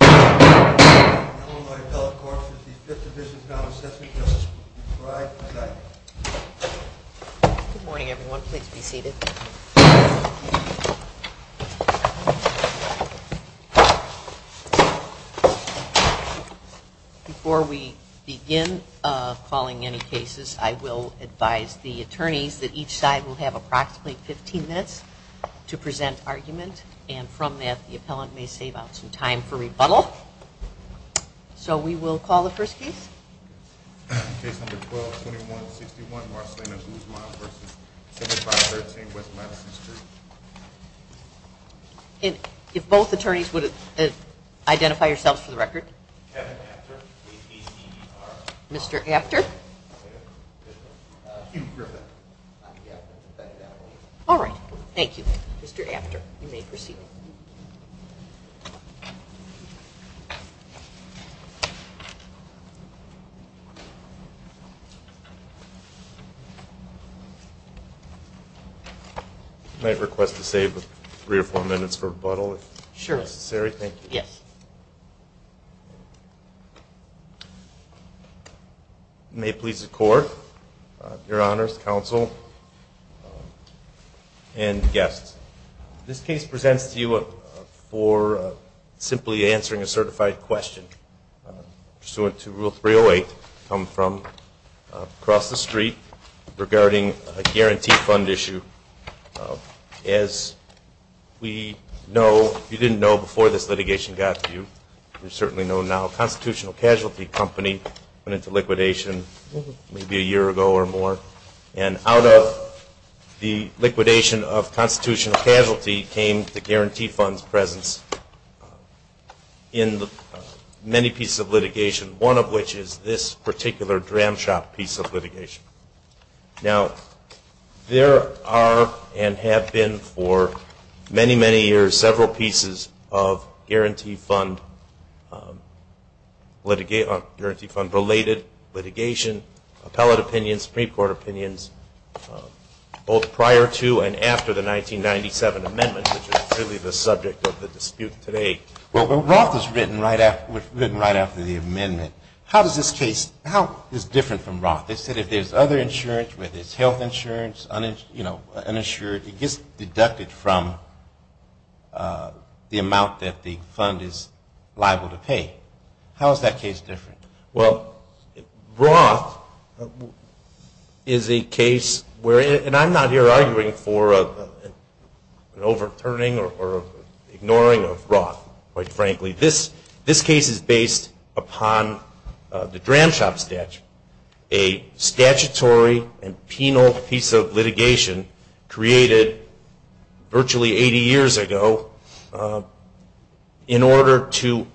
Good morning, everyone. Please be seated. Before we begin calling any cases, I will advise the attorneys that each side will have approximately 15 minutes to present argument, and from that the appellant may save up some time for rebuttal. So we will call the first case. Case number 12-2161, Marcellina Guzman v. 7513 West Madison Street. And if both attorneys would identify yourselves for the record. Kevin After. Mr. After. All right, thank you. Mr. After. You may proceed. I might request to save three or four minutes for rebuttal, if necessary. Sure. Yes. May it please the court, your honors, counsel, and guests. This case presents to you for simply answering a certified question pursuant to Rule 308, come from across the street regarding a guarantee fund issue. As we know, you didn't know before this litigation got to you, you certainly know now, a constitutional casualty company went into liquidation maybe a year ago or more, and out of the liquidation of constitutional casualty came the guarantee fund's presence in many pieces of litigation, one of which is this particular dram shop piece of litigation. Now, there are and have been for many, many years several pieces of guarantee fund related litigation, appellate opinions, Supreme Court opinions, both prior to and after the 1997 amendment, which is really the subject of the dispute today. Well, Roth was written right after the amendment. How does this case, how is it different from Roth? They said if there's other insurance, whether it's health insurance, you know, uninsured, it gets deducted from the amount that the fund is liable to pay. How is that case different? Well, Roth is a case where, and I'm not here arguing for an overturning or ignoring of Roth. Quite frankly, this case is based upon the dram shop statute, a statutory and penal piece of litigation created virtually 80 years ago in order to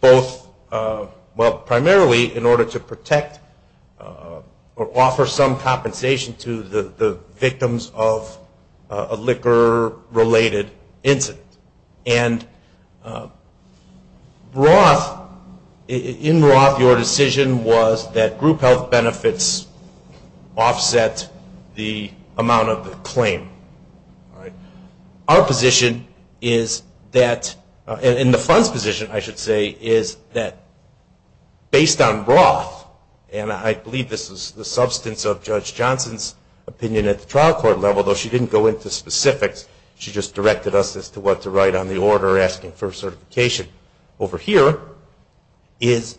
both, well, primarily in order to protect or offer some compensation to the victims of a liquor related incident. And Roth, in Roth, your decision was that group health benefits offset the amount of the claim, right? Our position is that, and the fund's position, I should say, is that based on Roth, and I believe this is the substance of Judge Johnson's opinion at the trial court level, although she didn't go into specifics, she just directed us as to what to write on the order asking for certification over here, is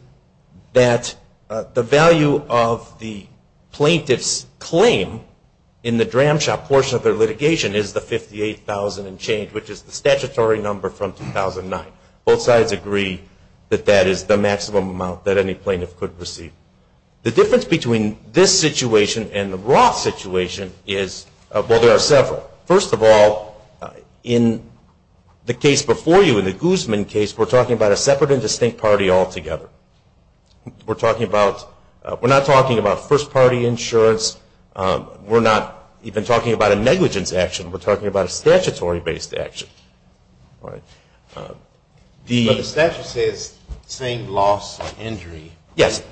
that the value of the plaintiff's claim in the dram shop portion of their litigation is the $58,000 and change, which is the statutory number from 2009. Both sides agree that that is the maximum amount that any plaintiff could receive. The difference between this situation and the Roth situation is, well, there are several. First of all, in the case before you, in the Guzman case, we're talking about a separate and distinct party altogether. We're talking about, we're not talking about first party insurance. We're not even talking about a negligence action. We're talking about a statutory based action. All right. The statute says same loss and injury. Yes.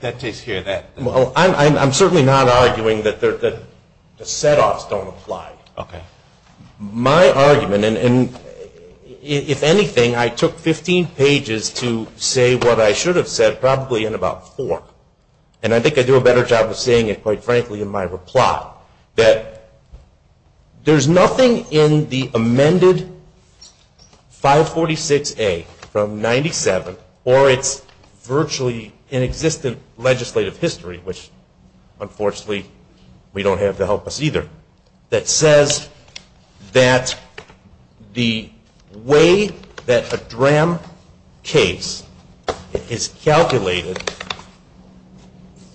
That takes care of that. Well, I'm certainly not arguing that the set-offs don't apply. Okay. My argument, and if anything, I took 15 pages to say what I should have said probably in about four, and I think I do a better job of saying it, quite frankly, in my reply, that there's nothing in the amended 546A from 97, or its virtually inexistent legislative history, which unfortunately, we don't have to help us either, that says that the way that a DRAM case is calculated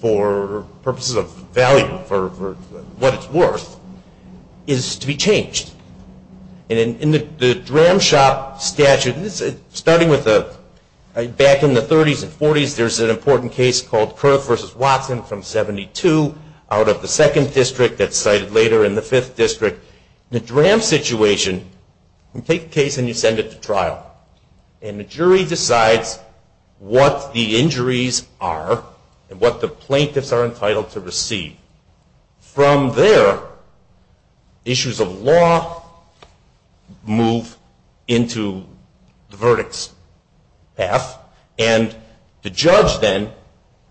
for purposes of value, for what it's worth, is to be changed. And in the DRAM shop statute, starting with the, back in the 30s and 40s, there's an important case called Kerr versus Watson from 72 out of the second district that's cited later in the fifth district. The DRAM situation, you take the case and you send it to trial. And the jury decides what the injuries are and what the plaintiffs are entitled to receive. From there, issues of law move into the verdict's path, and the judge then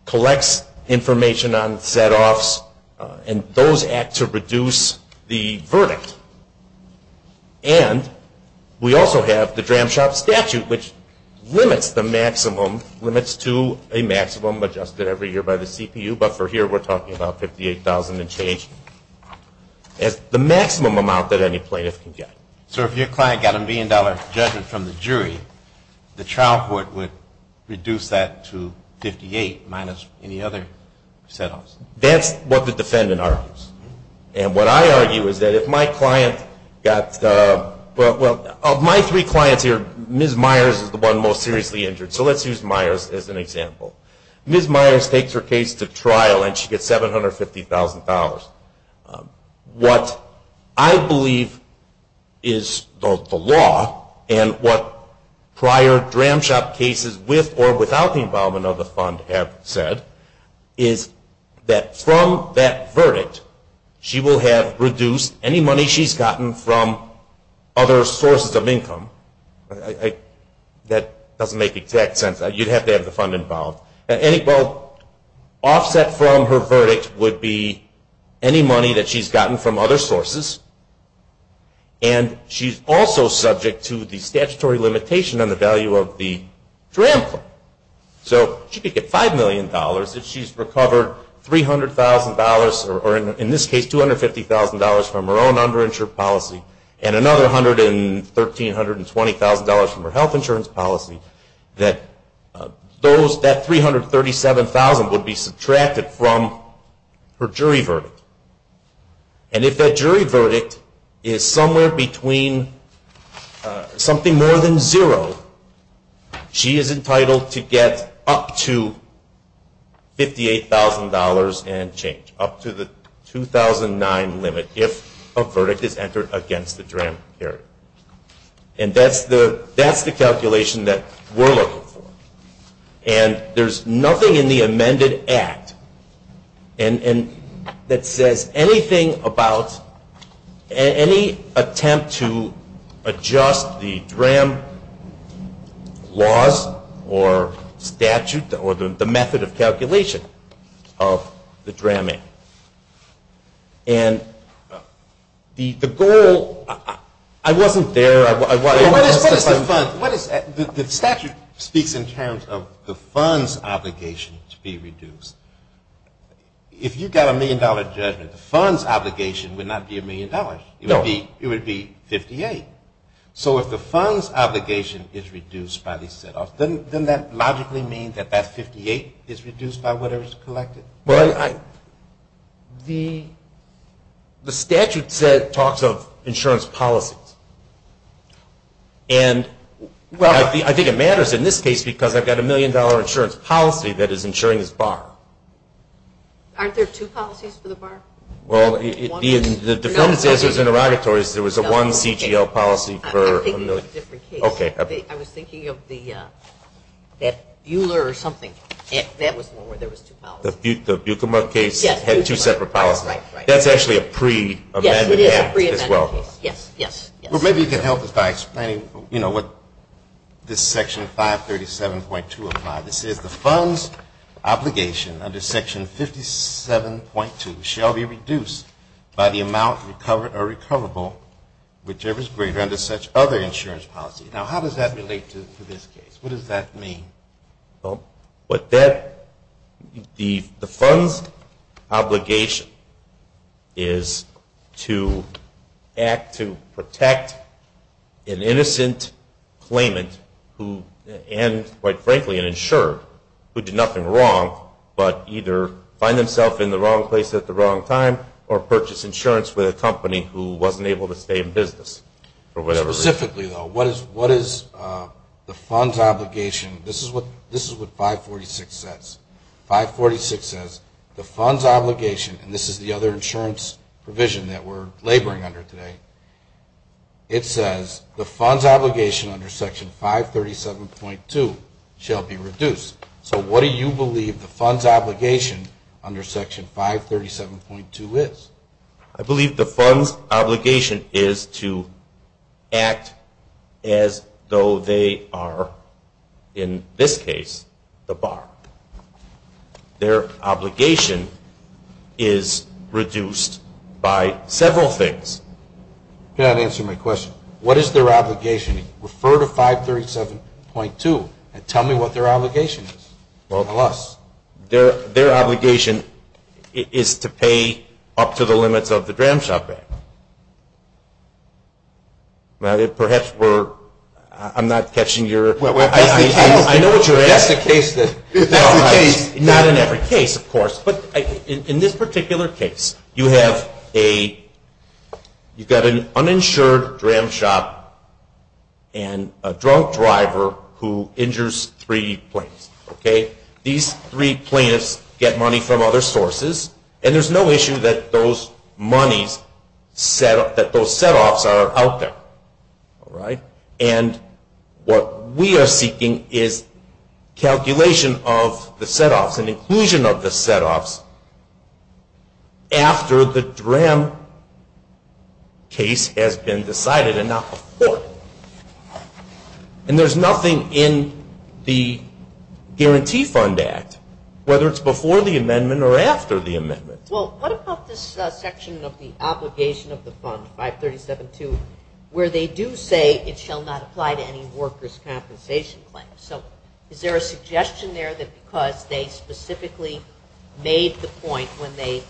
collects information on set-offs, and those act to reduce the verdict. And we also have the DRAM shop statute, which limits the maximum, limits to a maximum adjusted every year by the CPU, but for here we're talking about $58,000 and change, as the maximum amount that any plaintiff can get. So if your client got a million dollar judgment from the jury, the trial court would reduce that to $58,000 minus any other set-offs? That's what the defendant argues. And what I argue is that if my client got, well, of my three clients here, Ms. Myers is the one most seriously injured, so let's use Myers as an example. Ms. Myers takes her case to trial and she gets $750,000. What I believe is the law, and what prior DRAM shop cases with or without the involvement of the fund have said, is that from that verdict, she will have reduced any money she's gotten from other sources of income. That doesn't make exact sense. You'd have to have the fund involved. Well, offset from her verdict would be any money that she's gotten from other sources, and she's also subject to the statutory limitation on the value of the DRAM fund. So she could get $5 million if she's recovered $300,000, or in this case, $250,000 from her own underinsured policy, and another $113,000, $120,000 from her health insurance policy, that $337,000 would be subtracted from her jury verdict. And if that jury verdict is somewhere between something more than zero, she is entitled to get up to $58,000 and change, up to the 2009 limit, if a verdict is entered against the DRAM period. And that's the calculation that we're looking for. And there's nothing in the amended act that says anything about any attempt to adjust the DRAM laws, or statute, or the method of calculation of the DRAM Act. And the goal, I wasn't there, I wanted to testify. What is, the statute speaks in terms of the fund's obligation to be reduced. If you got a million dollar judgment, the fund's obligation would not be a million dollars. It would be $58,000. So if the fund's obligation is reduced by the set-off, doesn't that logically mean that that $58,000 is reduced by whatever is collected? Well, the statute talks of insurance policies. And I think it matters in this case, because I've got a million dollar insurance policy that is insuring this bar. Aren't there two policies for the bar? Well, the defendant says there's interrogatories. There was a one CGL policy for a million. OK. I was thinking of that Buhler or something. That was one where there was two policies. The Bukema case had two separate policies. That's actually a pre-amended act as well. Yes, yes, yes. Well, maybe you can help us by explaining what this section 537.2 implies. It says the fund's obligation under section 57.2 shall be reduced by the amount recovered or recoverable, whichever is greater, under such other insurance policy. Now, how does that relate to this case? What does that mean? Well, the fund's obligation is to act to protect an innocent claimant and, quite frankly, an insurer who did nothing wrong, but either find themselves in the wrong place at the wrong time or purchase insurance with a company who wasn't able to stay in business for whatever reason. Specifically, though, what is the fund's obligation? This is what 546 says. 546 says the fund's obligation, and this is the other insurance provision that we're laboring under today, it says the fund's obligation under section 537.2 shall be reduced. So what do you believe the fund's obligation under section 537.2 is? I believe the fund's obligation is to act as though they are, in this case, the bar. Their obligation is reduced by several things. You cannot answer my question. What is their obligation? Refer to 537.2 and tell me what their obligation is, plus. Their obligation is to pay up to the limits of the Dram Shop Act. Perhaps we're, I'm not catching your, I know what you're asking. That's the case. Not in every case, of course, but in this particular case, you have a, you've got an uninsured Dram Shop and a drunk driver who injures three plaintiffs, okay? These three plaintiffs get money from other sources, and there's no issue that those monies, that those setoffs are out there, all right? And what we are seeking is calculation of the setoffs and inclusion of the setoffs after the Dram case has been decided and not before. And there's nothing in the Guarantee Fund Act, whether it's before the amendment or after the amendment. Well, what about this section of the obligation of the fund, 537.2, where they do say it shall not apply to any workers' compensation claim? So is there a suggestion there that because they specifically made the point when they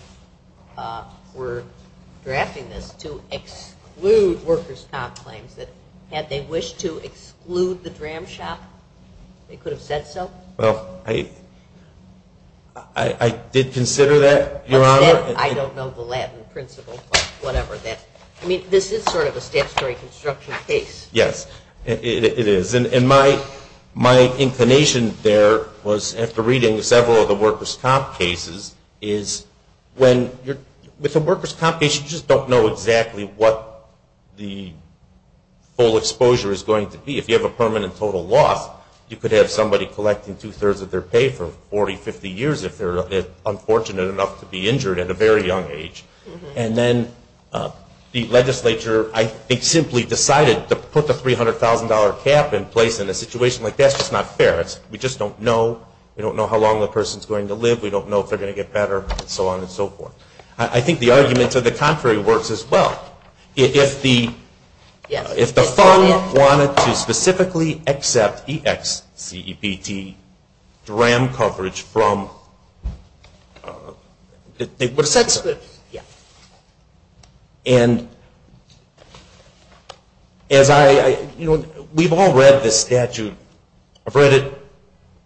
were drafting this to exclude workers' comp claims, that had they wished to exclude the Dram Shop, they could have said so? Well, I did consider that, Your Honor. I don't know the Latin principle, but whatever that, I mean, this is sort of a statutory construction case. Yes, it is. And my inclination there was, after reading several of the workers' comp cases, is with the workers' comp case, you just don't know exactly what the full exposure is going to be. If you have a permanent total loss, you could have somebody collecting two-thirds of their pay for 40, 50 years if they're unfortunate enough to be injured at a very young age. And then the legislature, I think, simply decided to put the $300,000 cap in place in a situation like that's just not fair. We just don't know. We don't know how long the person's going to live. We don't know if they're going to get better, and so on and so forth. I think the arguments of the contrary works as well. If the fund wanted to specifically accept EXCEPT Dram coverage from, they would have said so. Yeah. And we've all read this statute. I've read it.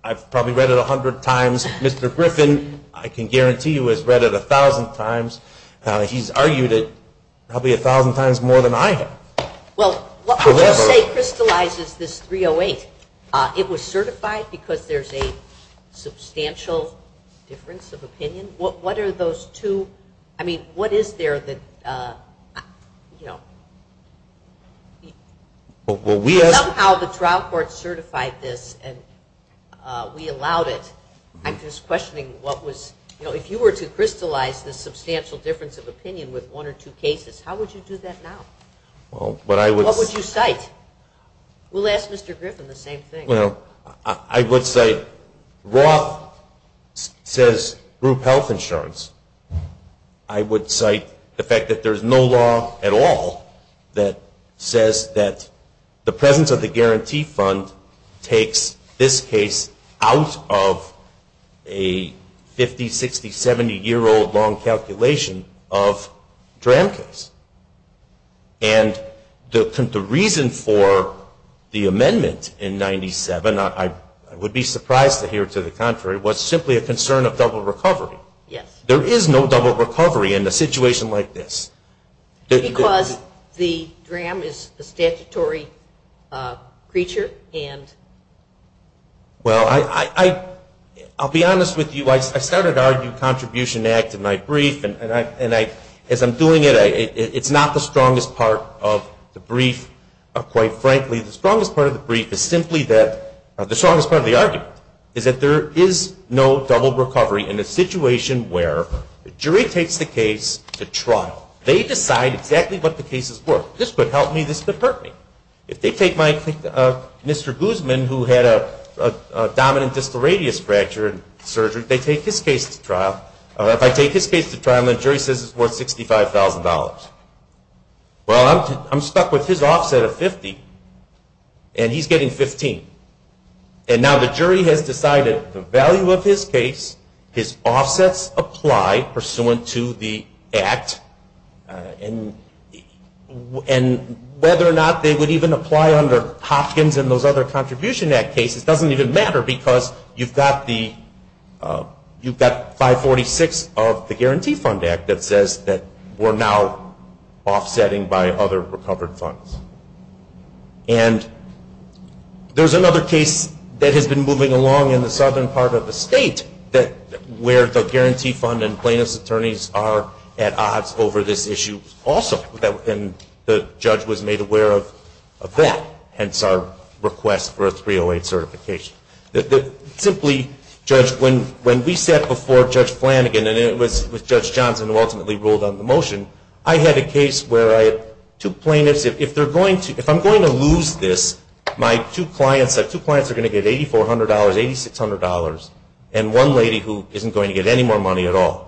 I've probably read it 100 times. Mr. Griffin, I can guarantee you, has read it 1,000 times. He's argued it probably 1,000 times more than I have. Well, what I would say crystallizes this 308. It was certified because there's a substantial difference of opinion. What are those two? I mean, what is there that, you know, somehow the trial court certified this and we allowed it. I'm just questioning what was, you know, if you were to crystallize the substantial difference of opinion with one or two cases, how would you do that now? What would you cite? We'll ask Mr. Griffin the same thing. Well, I would cite Roth says group health insurance. I would cite the fact that there's no law at all that says that the presence of the guarantee fund takes this case out of a 50, 60, 70-year-old long calculation of Dram case. And the reason for the amendment in 97, I would be surprised to hear to the contrary, was simply a concern of double recovery. There is no double recovery in a situation like this. Because the Dram is a statutory creature and... Well, I'll be honest with you. I started arguing contribution act in my brief and as I'm doing it, it's not the strongest part of the brief. Quite frankly, the strongest part of the brief is simply that, the strongest part of the argument, is that there is no double recovery in a situation where the jury takes the case to trial. They decide exactly what the cases were. This could help me, this could hurt me. If they take my Mr. Guzman, who had a dominant distal radius fracture in surgery, they take his case to trial. If I take his case to trial, the jury says it's worth $65,000. Well, I'm stuck with his offset of 50 and he's getting 15. And now the jury has decided the value of his case, his offsets apply pursuant to the act and whether or not they would even apply under Hopkins and those other contribution act cases doesn't even matter because you've got the 546 of the Guarantee Fund Act that says that we're now offsetting by other recovered funds. And there's another case that has been moving along in the southern part of the state where the Guarantee Fund and plaintiff's attorneys are at odds over this issue also. And the judge was made aware of that, hence our request for a 308 certification. Simply, Judge, when we sat before Judge Flanagan and it was with Judge Johnson who ultimately ruled on the motion, I had a case where I had two plaintiffs. If I'm going to lose this, my two clients are going to get $8,400, $8,600, and one lady who isn't going to get any more money at all.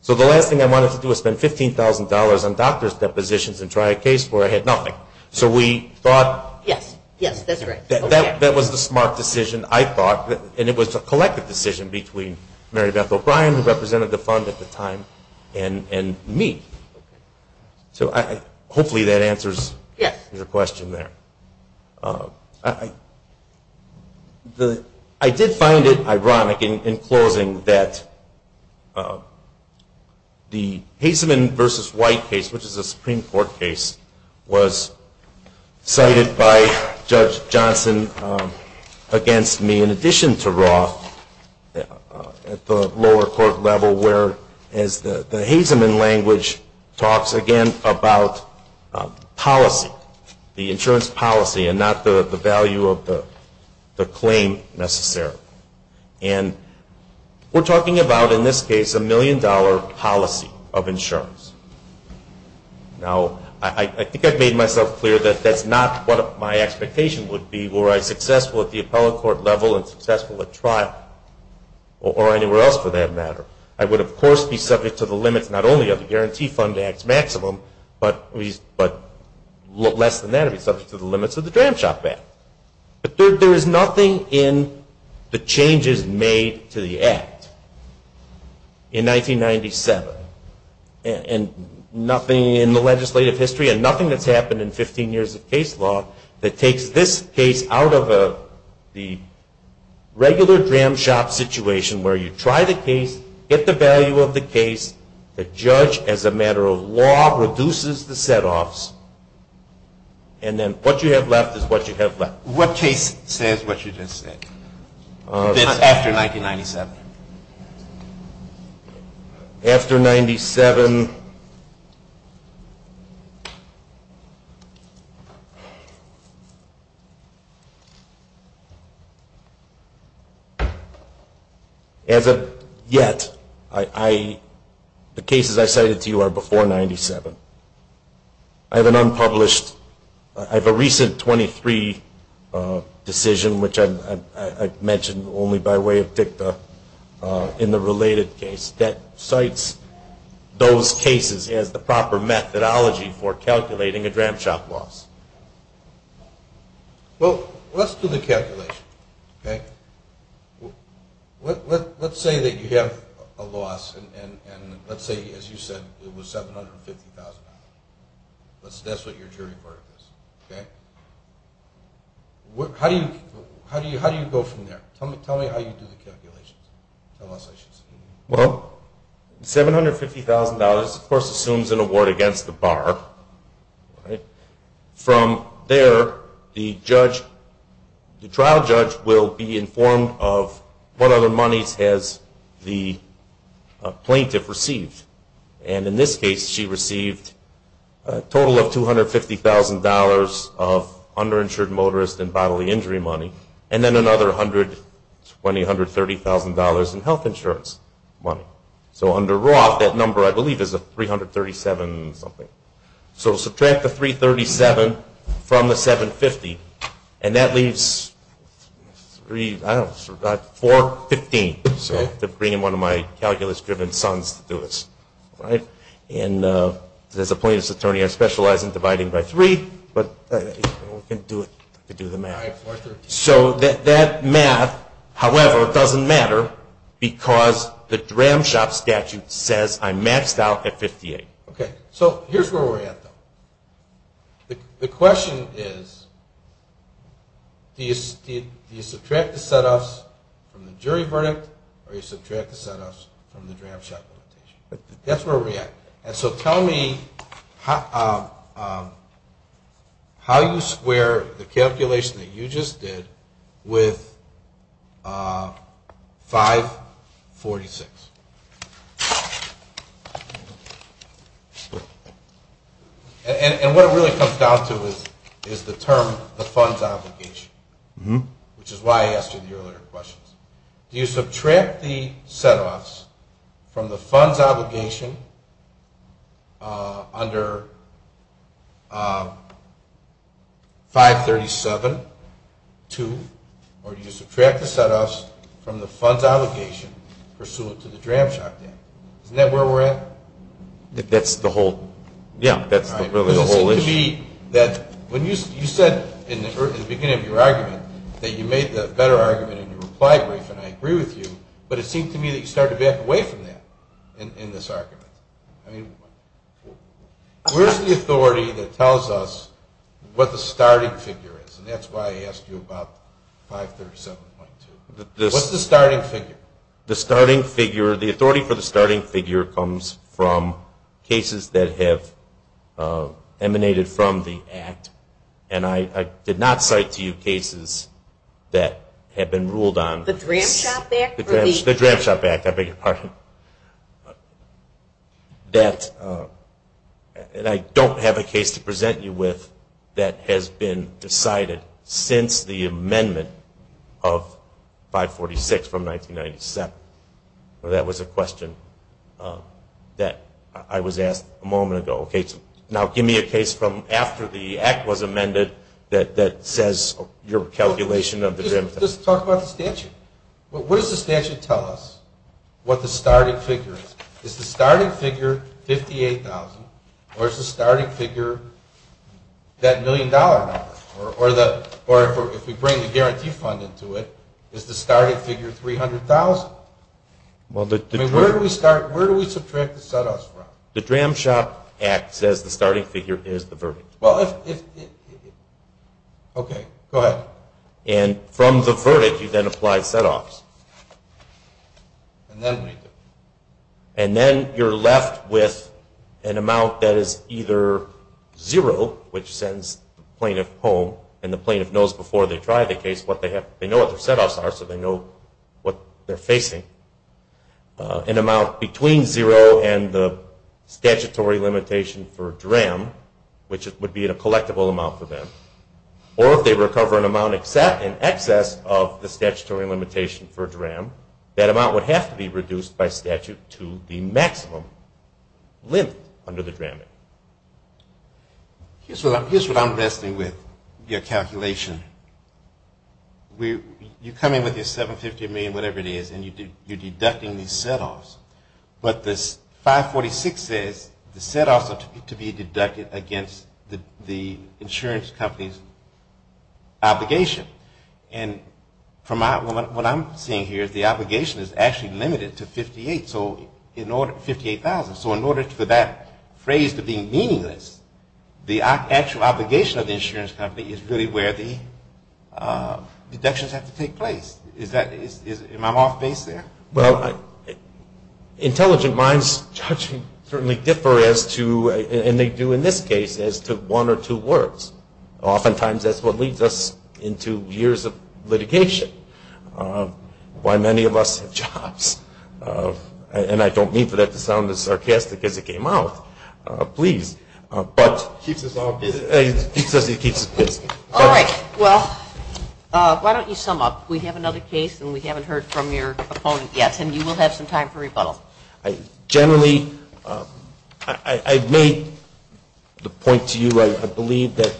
So the last thing I wanted to do was spend $15,000 on doctor's depositions and try a case where I had nothing. So we thought that was the smart decision. And it was a collective decision between Mary Beth O'Brien, who represented the fund at the time, and me. So hopefully that answers your question there. I did find it ironic in closing that the Hazeman versus White case, which is a Supreme Court case, was cited by Judge Johnson against me in addition to Roth at the lower court level where, as the Hazeman language talks again about policy, the insurance policy, and not the value of the claim necessarily. And we're talking about, in this case, a million dollar policy of insurance. Now, I think I've made myself clear that that's not what my expectation would be were I successful at the appellate court level and successful at trial, or anywhere else for that matter. I would, of course, be subject to the limits not only of the Guarantee Fund Act's maximum, but less than that, I'd be subject to the limits of the Dram Shop Act. But there is nothing in the changes made to the act in 1997, and nothing in the legislative history, and nothing that's happened in 15 years of case law that takes this case out of the regular Dram Shop situation where you try the case, get the value of the case, the judge, as a matter of law, reduces the setoffs, and then what you have left is what you have left. What case says what you just said? After 1997. After 97, as of yet, the cases I cited to you are before 97. I have an unpublished, I have a recent 23 decision, which I mentioned only by way of dicta in the related case, that cites those cases as the proper methodology for calculating a Dram Shop loss. Well, let's do the calculation, OK? Let's say that you have a loss, and let's say, as you said, it was $750,000. That's what your jury report is, OK? How do you go from there? Tell me how you do the calculations. Well, $750,000, of course, assumes an award against the bar. From there, the trial judge will be informed of what other monies has the plaintiff received. And in this case, she received a total of $250,000 of underinsured motorist and bodily injury money, and then another $120,000, $130,000 in health insurance money. So under Roth, that number, I believe, is $337,000 something. So subtract the $337,000 from the $750,000, and that leaves $415,000 to bring in one of my calculus driven sons to do this, right? And as a plaintiff's attorney, I specialize in dividing by 3, but we can do it to do the math. So that math, however, doesn't matter because the dram shop statute says I maxed out at 58. OK, so here's where we're at, though. The question is, do you subtract the set-offs from the jury verdict, or do you subtract the set-offs from the dram shop limitation? That's where we're at. And so tell me how you square the calculation that you just did with 546. And what it really comes down to is the term, the funds obligation, which is why I asked you the earlier questions. Do you subtract the set-offs from the funds obligation under 537.2, or do you subtract the set-offs from the funds obligation pursuant to the dram shop dam? Isn't that where we're at? That's the whole, yeah, that's really the whole issue. All right, because it seemed to be that when you said in the beginning of your argument that you made the better argument in your reply brief, and I agree with you, but it seemed to me that you started to back away from that in this argument. I mean, where's the authority that tells us what the starting figure is? And that's why I asked you about 537.2. What's the starting figure? The starting figure, the authority for the starting figure comes from cases that have emanated from the act. And I did not cite to you cases that have been ruled on. The Dram Shop Act? The Dram Shop Act, I beg your pardon. And I don't have a case to present you with that has been decided since the amendment of 546 from 1997. That was a question that I was asked a moment ago. Now, give me a case from after the act was amended that says your calculation of the Dram Shop. Just talk about the statute. What does the statute tell us, what the starting figure is? Is the starting figure $58,000, or is the starting figure that million dollar number? Or if we bring the guarantee fund into it, is the starting figure $300,000? Where do we subtract the set-offs from? The Dram Shop Act says the starting figure is the verdict. Well, if it, OK, go ahead. And from the verdict, you then apply set-offs. And then what do you do? And then you're left with an amount that is either zero, which sends the plaintiff home, and the plaintiff knows before they try the case what they have, they know what their set-offs are, so they know what they're facing. An amount between zero and the statutory limitation for Dram, which would be a collectible amount for them. Or if they recover an amount in excess of the statutory limitation for Dram, that amount would have to be reduced by statute to the maximum limit under the Dram Act. Here's what I'm wrestling with, your calculation. You come in with your $750 million, whatever it is, and you're deducting these set-offs. But this 546 says the set-offs are to be deducted against the insurance company's obligation. And from what I'm seeing here, the obligation is actually limited to $58,000. So in order for that phrase to be meaningless, the actual obligation of the insurance company is really where the deductions have to take place. Am I off base there? Well, intelligent minds certainly differ as to, and they do in this case, as to one or two words. Oftentimes, that's what leads us into years of litigation. Why many of us have jobs. And I don't mean for that to sound as sarcastic as it came out, please. But it keeps us all busy. All right, well, why don't you sum up? We have another case, and we haven't heard from your opponent yet. And you will have some time for rebuttal. Generally, I've made the point to you, I believe, that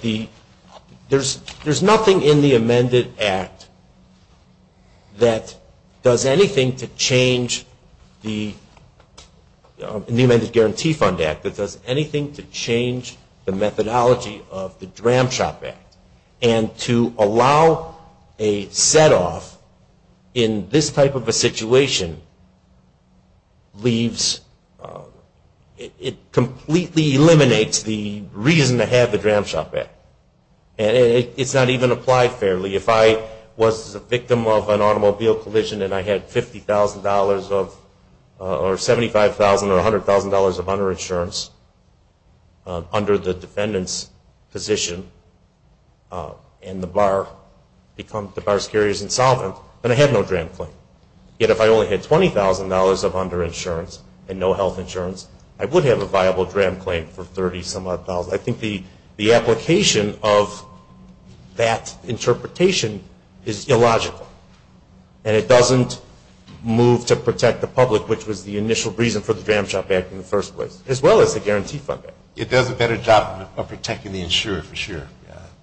there's nothing in the amended act that does anything to change the, in the Amended Guarantee Fund Act, that does anything to change the methodology of the Dram Shop Act. And to allow a set off in this type of a situation leaves, it completely eliminates the reason to have the Dram Shop Act. And it's not even applied fairly. If I was a victim of an automobile collision and I had $50,000 of, or $75,000 or $100,000 of under-insurance under the defendant's position, and the bar becomes, the bar carrier is insolvent, then I have no Dram claim. Yet if I only had $20,000 of under-insurance and no health insurance, I would have a viable Dram claim for $30,000. I think the application of that interpretation is illogical. And it doesn't move to protect the public, which was the initial reason for the Dram Shop Act in the first place, as well as the Guarantee Fund Act. It does a better job of protecting the insured, for sure.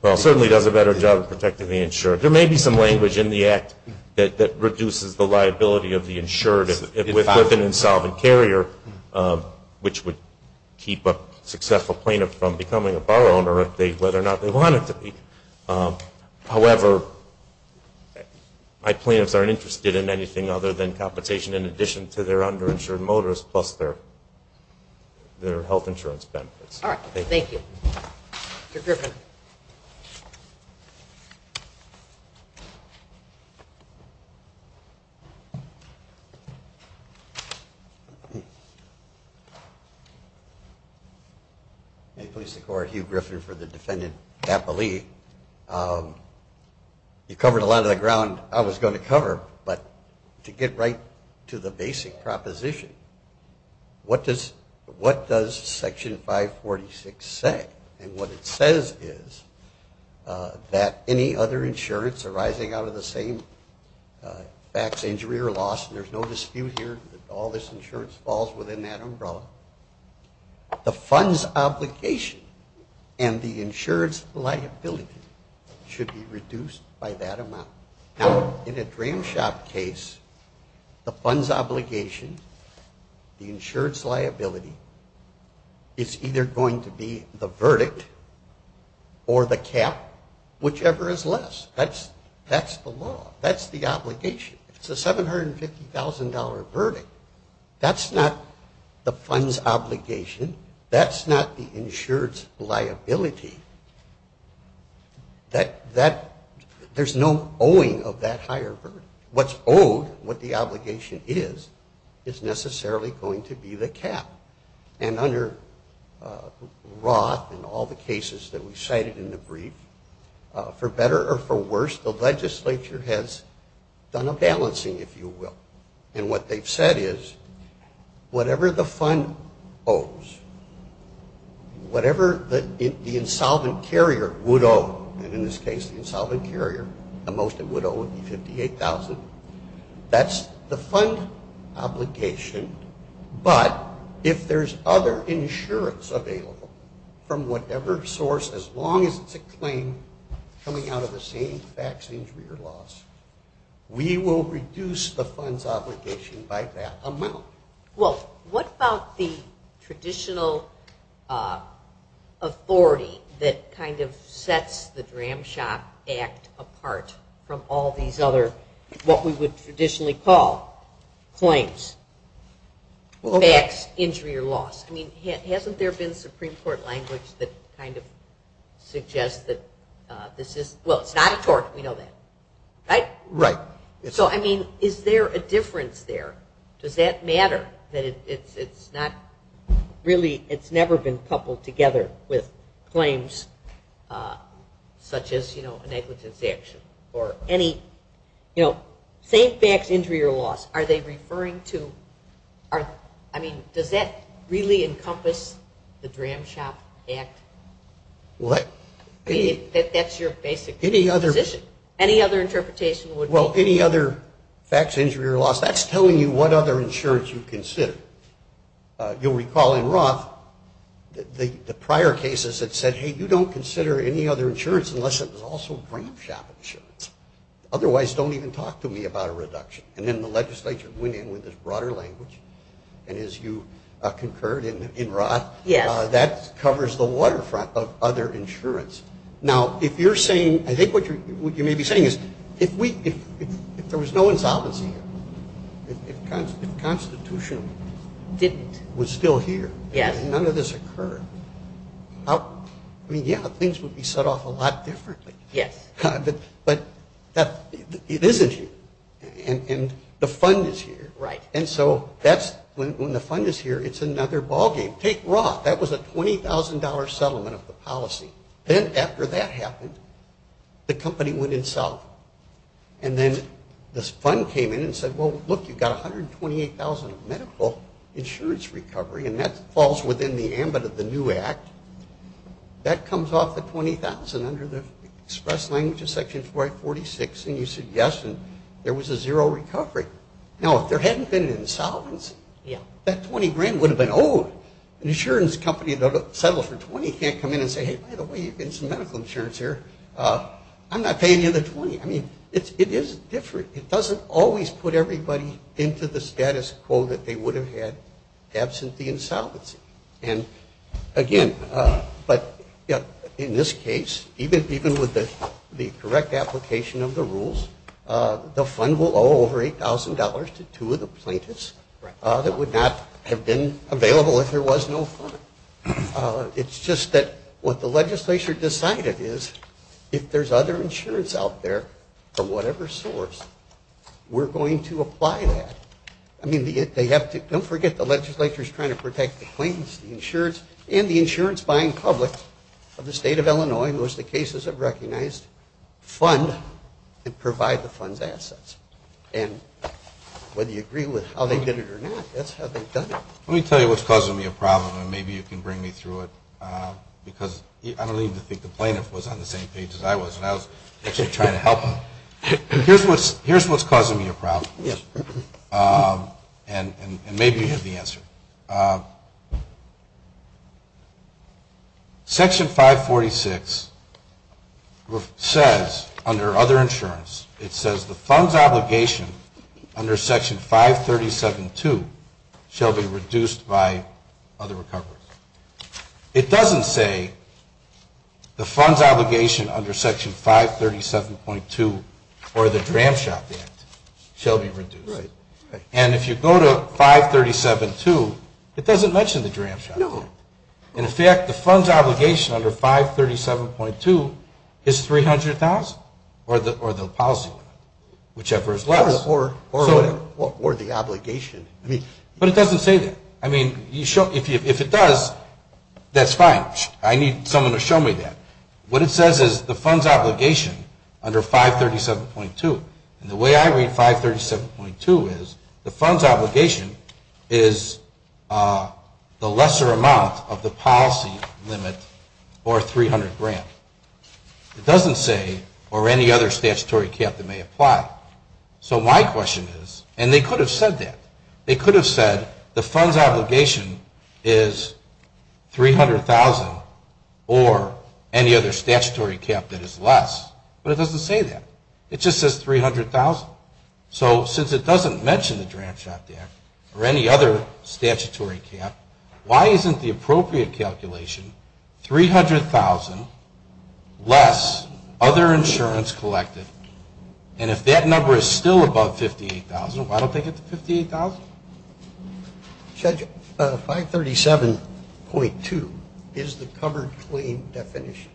Well, it certainly does a better job of protecting the insured. There may be some language in the act that reduces the liability of the insured if with an insolvent carrier, which would keep a successful plaintiff from becoming a bar owner if they, whether or not they wanted to be. However, my plaintiffs aren't interested in anything other than compensation in addition to their under-insured motors plus their health insurance benefits. All right. Thank you. Mr. Griffin. May it please the Court, Hugh Griffin for the defendant, You covered a lot of the ground I was going to cover, but to get right to the basic proposition, what does Section 546 say? And what it says is that any other insurance arising out of the same back injury or loss, and there's no dispute here that all this insurance falls within that umbrella, the fund's obligation and the insurance liability should be reduced by that amount. Now, in a dram shop case, the fund's obligation, the insurance liability, is either going to be the verdict or the cap, whichever is less. That's the law. That's the obligation. It's a $750,000 verdict. That's not the fund's obligation. That's not the insured's liability. There's no owing of that higher verdict. What's owed, what the obligation is, is necessarily going to be the cap. And under Roth and all the cases that we cited in the brief, for better or for worse, the legislature has done a balancing, if you will. And what they've said is, whatever the fund owes, whatever the insolvent carrier would owe, and in this case, the insolvent carrier, the most it would owe would be $58,000. That's the fund obligation. But if there's other insurance available from whatever source, as long as it's a claim coming out of the same back injury or loss, we will reduce the fund's obligation by that amount. Well, what about the traditional authority that kind of sets the DRAM SHOP Act apart from all these other what we would traditionally call claims, backs, injury, or loss? I mean, hasn't there been Supreme Court language that kind of suggests that this is, well, it's not a tort. We know that. Right? Right. So I mean, is there a difference there? Does that matter, that it's not really, it's never been coupled together with claims such as a negligence action or any, you know, same backs, injury, or loss? Are they referring to, I mean, does that really encompass the DRAM SHOP Act? What? That's your basic position. Any other interpretation would be. Well, any other backs, injury, or loss, that's telling you what other insurance you consider. You'll recall in Roth, the prior cases that said, hey, you don't consider any other insurance unless it was also DRAM SHOP insurance. Otherwise, don't even talk to me about a reduction. And then the legislature went in with this broader language. And as you concurred in Roth, that covers the waterfront of other insurance. Now, if you're saying, I think what you may be saying is, if there was no insolvency, if constitution didn't, was still here, and none of this occurred, I mean, yeah, things would be set off a lot differently. But it isn't here, and the fund is here. And so when the fund is here, it's another ballgame. Take Roth. That was a $20,000 settlement of the policy. Then after that happened, the company went insolvent. And then this fund came in and said, well, look, you've got $128,000 of medical insurance recovery. And that falls within the ambit of the new act. That comes off the $20,000 under the express language of section 446. And you said yes, and there was a zero recovery. Now, if there hadn't been an insolvency, that $20,000 would have been owed. An insurance company that settles for $20,000 can't come in and say, hey, by the way, you've got some medical insurance here. I'm not paying you the 20. I mean, it is different. It doesn't always put everybody into the status quo that they would have had absent the insolvency. And again, in this case, even with the correct application of the rules, the fund will owe over $8,000 to two of the plaintiffs that would not have been available if there was no fund. It's just that what the legislature decided is if there's other insurance out there for whatever source, we're going to apply that. I mean, don't forget the legislature's trying to protect the plaintiffs, the insurance, and the insurance buying public of the state of Illinois. Most of the cases have recognized fund and provide the fund's assets. And whether you agree with how they did it or not, that's how they've done it. Let me tell you what's causing me a problem. And maybe you can bring me through it, because I don't even think the plaintiff was on the same page as I was. And I was actually trying to help him. Here's what's causing me a problem. And maybe you have the answer. Section 546 says, under other insurance, it says the fund's obligation under Section 537-2 shall be reduced by other recoveries. It doesn't say the fund's obligation under Section 537.2 or the Dram Shop Act shall be reduced. And if you go to 537-2, it doesn't mention the Dram Shop Act. In fact, the fund's obligation under 537.2 is $300,000 or the policy, whichever is less. Or the obligation. But it doesn't say that. I mean, if it does, that's fine. I need someone to show me that. What it says is the fund's obligation under 537.2. And the way I read 537.2 is the fund's obligation is the lesser amount of the policy limit or $300,000. It doesn't say, or any other statutory cap that may apply. So my question is, and they could have said that. They could have said the fund's obligation is $300,000 or any other statutory cap that is less. But it doesn't say that. It just says $300,000. So since it doesn't mention the Dram Shop Act or any other statutory cap, why isn't the appropriate calculation $300,000 less other insurance collective? And if that number is still above $58,000, why don't they get the $58,000? Judge, 537.2 is the covered claim definition.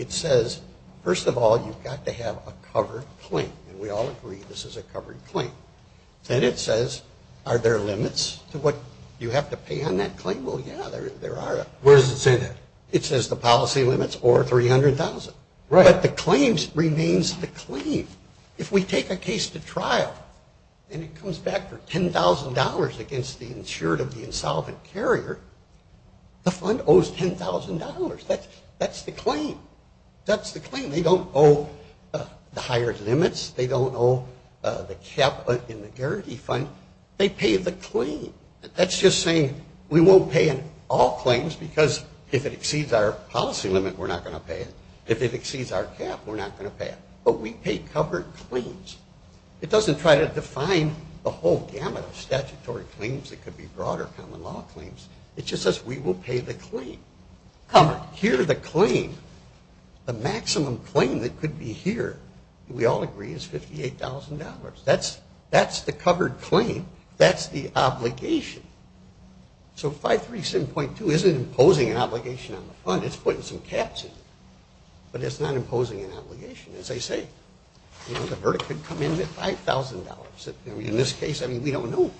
It says, first of all, you've got to have a covered claim. And we all agree this is a covered claim. And it says, are there limits to what you have to pay on that claim? Well, yeah, there are. Where does it say that? It says the policy limits or $300,000. But the claims remains the claim. If we take a case to trial and it comes back for $10,000 against the insured of the insolvent carrier, the fund owes $10,000. That's the claim. That's the claim. They don't owe the higher limits. They don't owe the cap in the guarantee fund. They pay the claim. That's just saying we won't pay in all claims because if it exceeds our policy limit, we're not going to pay it. If it exceeds our cap, we're not going to pay it. But we pay covered claims. It doesn't try to define the whole gamut of statutory claims. It could be broader common law claims. It just says we will pay the claim. Covered, here the claim. The maximum claim that could be here, we all agree, is $58,000. That's the covered claim. That's the obligation. So 537.2 isn't imposing an obligation on the fund. It's putting some caps in it. But it's not imposing an obligation. As I say, the verdict could come in at $5,000. In this case, we don't know.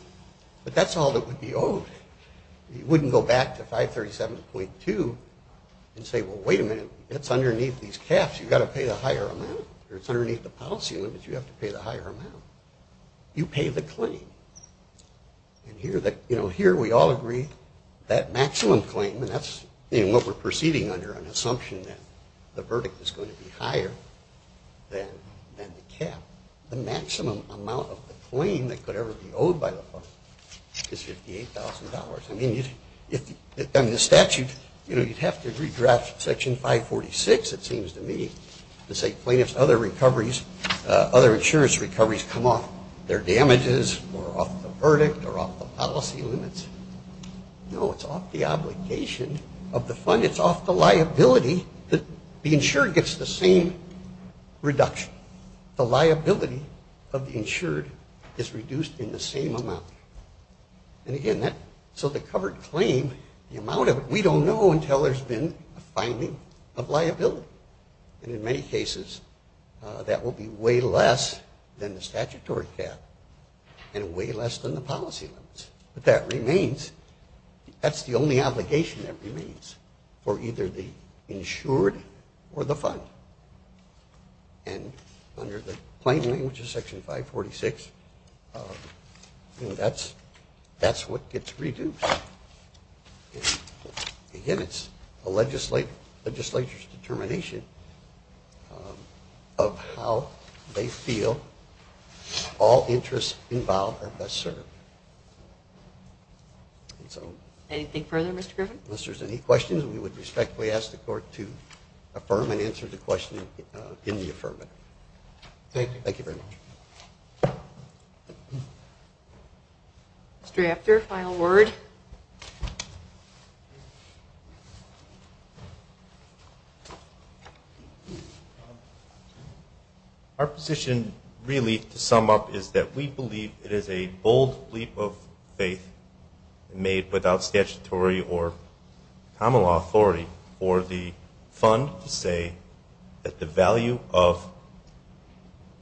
But that's all that would be owed. You wouldn't go back to 537.2 and say, well, wait a minute. It's underneath these caps. You've got to pay the higher amount. Or it's underneath the policy limit. You have to pay the higher amount. You pay the claim. And here we all agree that maximum claim, and that's what we're proceeding under, an assumption that the verdict is going to be higher than the cap, the maximum amount of the claim that could ever be owed by the fund is $58,000. I mean, the statute, you'd have to redraft Section 546, it seems to me, to say plaintiffs' other insurance recoveries come off their damages, or off the verdict, or off the policy limits. No, it's off the obligation of the fund. It's off the liability that the insured gets the same reduction. The liability of the insured is reduced in the same amount. And again, so the covered claim, the amount of it, we don't know until there's been a finding of liability. And in many cases, that will be way less than the statutory cap, and way less than the policy limits. But that remains, that's the only obligation that remains for either the insured or the fund. And under the plain language of Section 546, that's what gets reduced. Again, it's a legislature's determination of how they feel all interests involved are best served. Anything further, Mr. Griffin? Unless there's any questions, we would respectfully ask the court to affirm and answer the question in the affirmative. Thank you. Thank you very much. Mr. After, final word. Our position, really, to sum up, is that we believe it is a bold leap of faith made without statutory or common law authority for the fund to say that the value of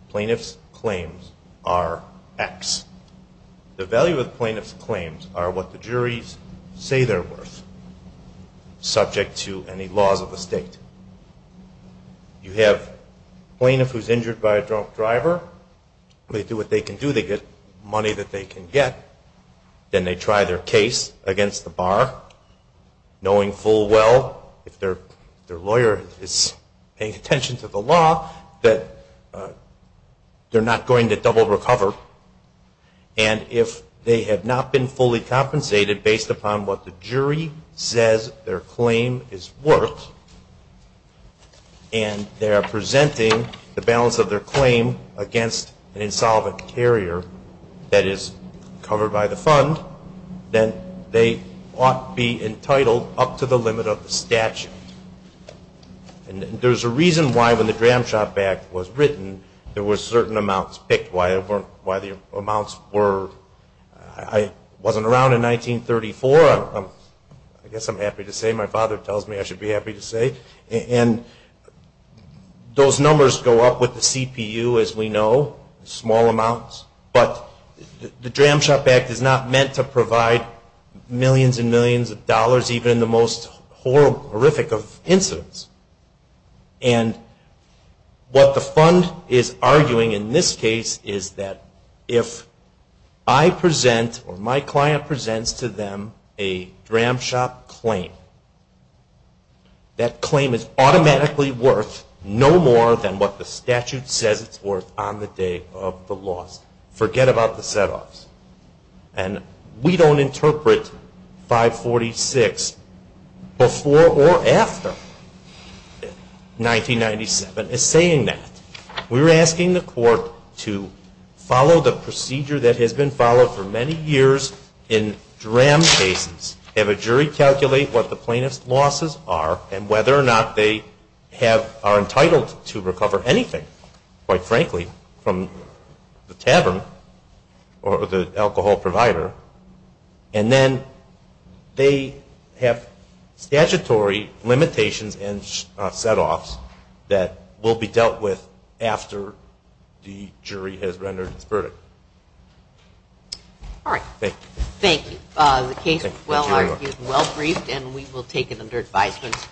plaintiff's claims are X. The value of plaintiff's claims are what the juries say they're worth, subject to any laws of the state. You have a plaintiff who's injured by a drunk driver. They do what they can do. They get money that they can get. Then they try their case against the bar, knowing full well, if their lawyer is paying attention to the law, that they're not going to double recover. And if they have not been fully compensated based upon what the jury says their claim is worth, and they are presenting the balance of their claim against an insolvent carrier that is covered by the fund, then they ought be entitled up to the limit of the statute. And there's a reason why, when the Dram Shop Act was written, there were certain amounts picked. Why the amounts were, I wasn't around in 1934. I guess I'm happy to say. My father tells me I should be happy to say. And those numbers go up with the CPU, as we know, small amounts. But the Dram Shop Act is not meant to provide millions and millions of dollars, even in the most horrific of incidents. And what the fund is arguing, in this case, is that if I present, or my client presents to them, a Dram Shop claim, that claim is automatically worth no more than what the statute says it's worth on the day of the loss. Forget about the set-offs. And we don't interpret 546 before or after 1997 as saying that. We're asking the court to follow the procedure that has been followed for many years in Dram cases, have a jury calculate what the plaintiff's losses are, and whether or not they are entitled to recover anything, quite frankly, from the tavern or the alcohol provider. And then they have statutory limitations and set-offs that will be dealt with after the jury has rendered its verdict. All right. Thank you. The case was well-argued and well-briefed. And we will take it under advisement.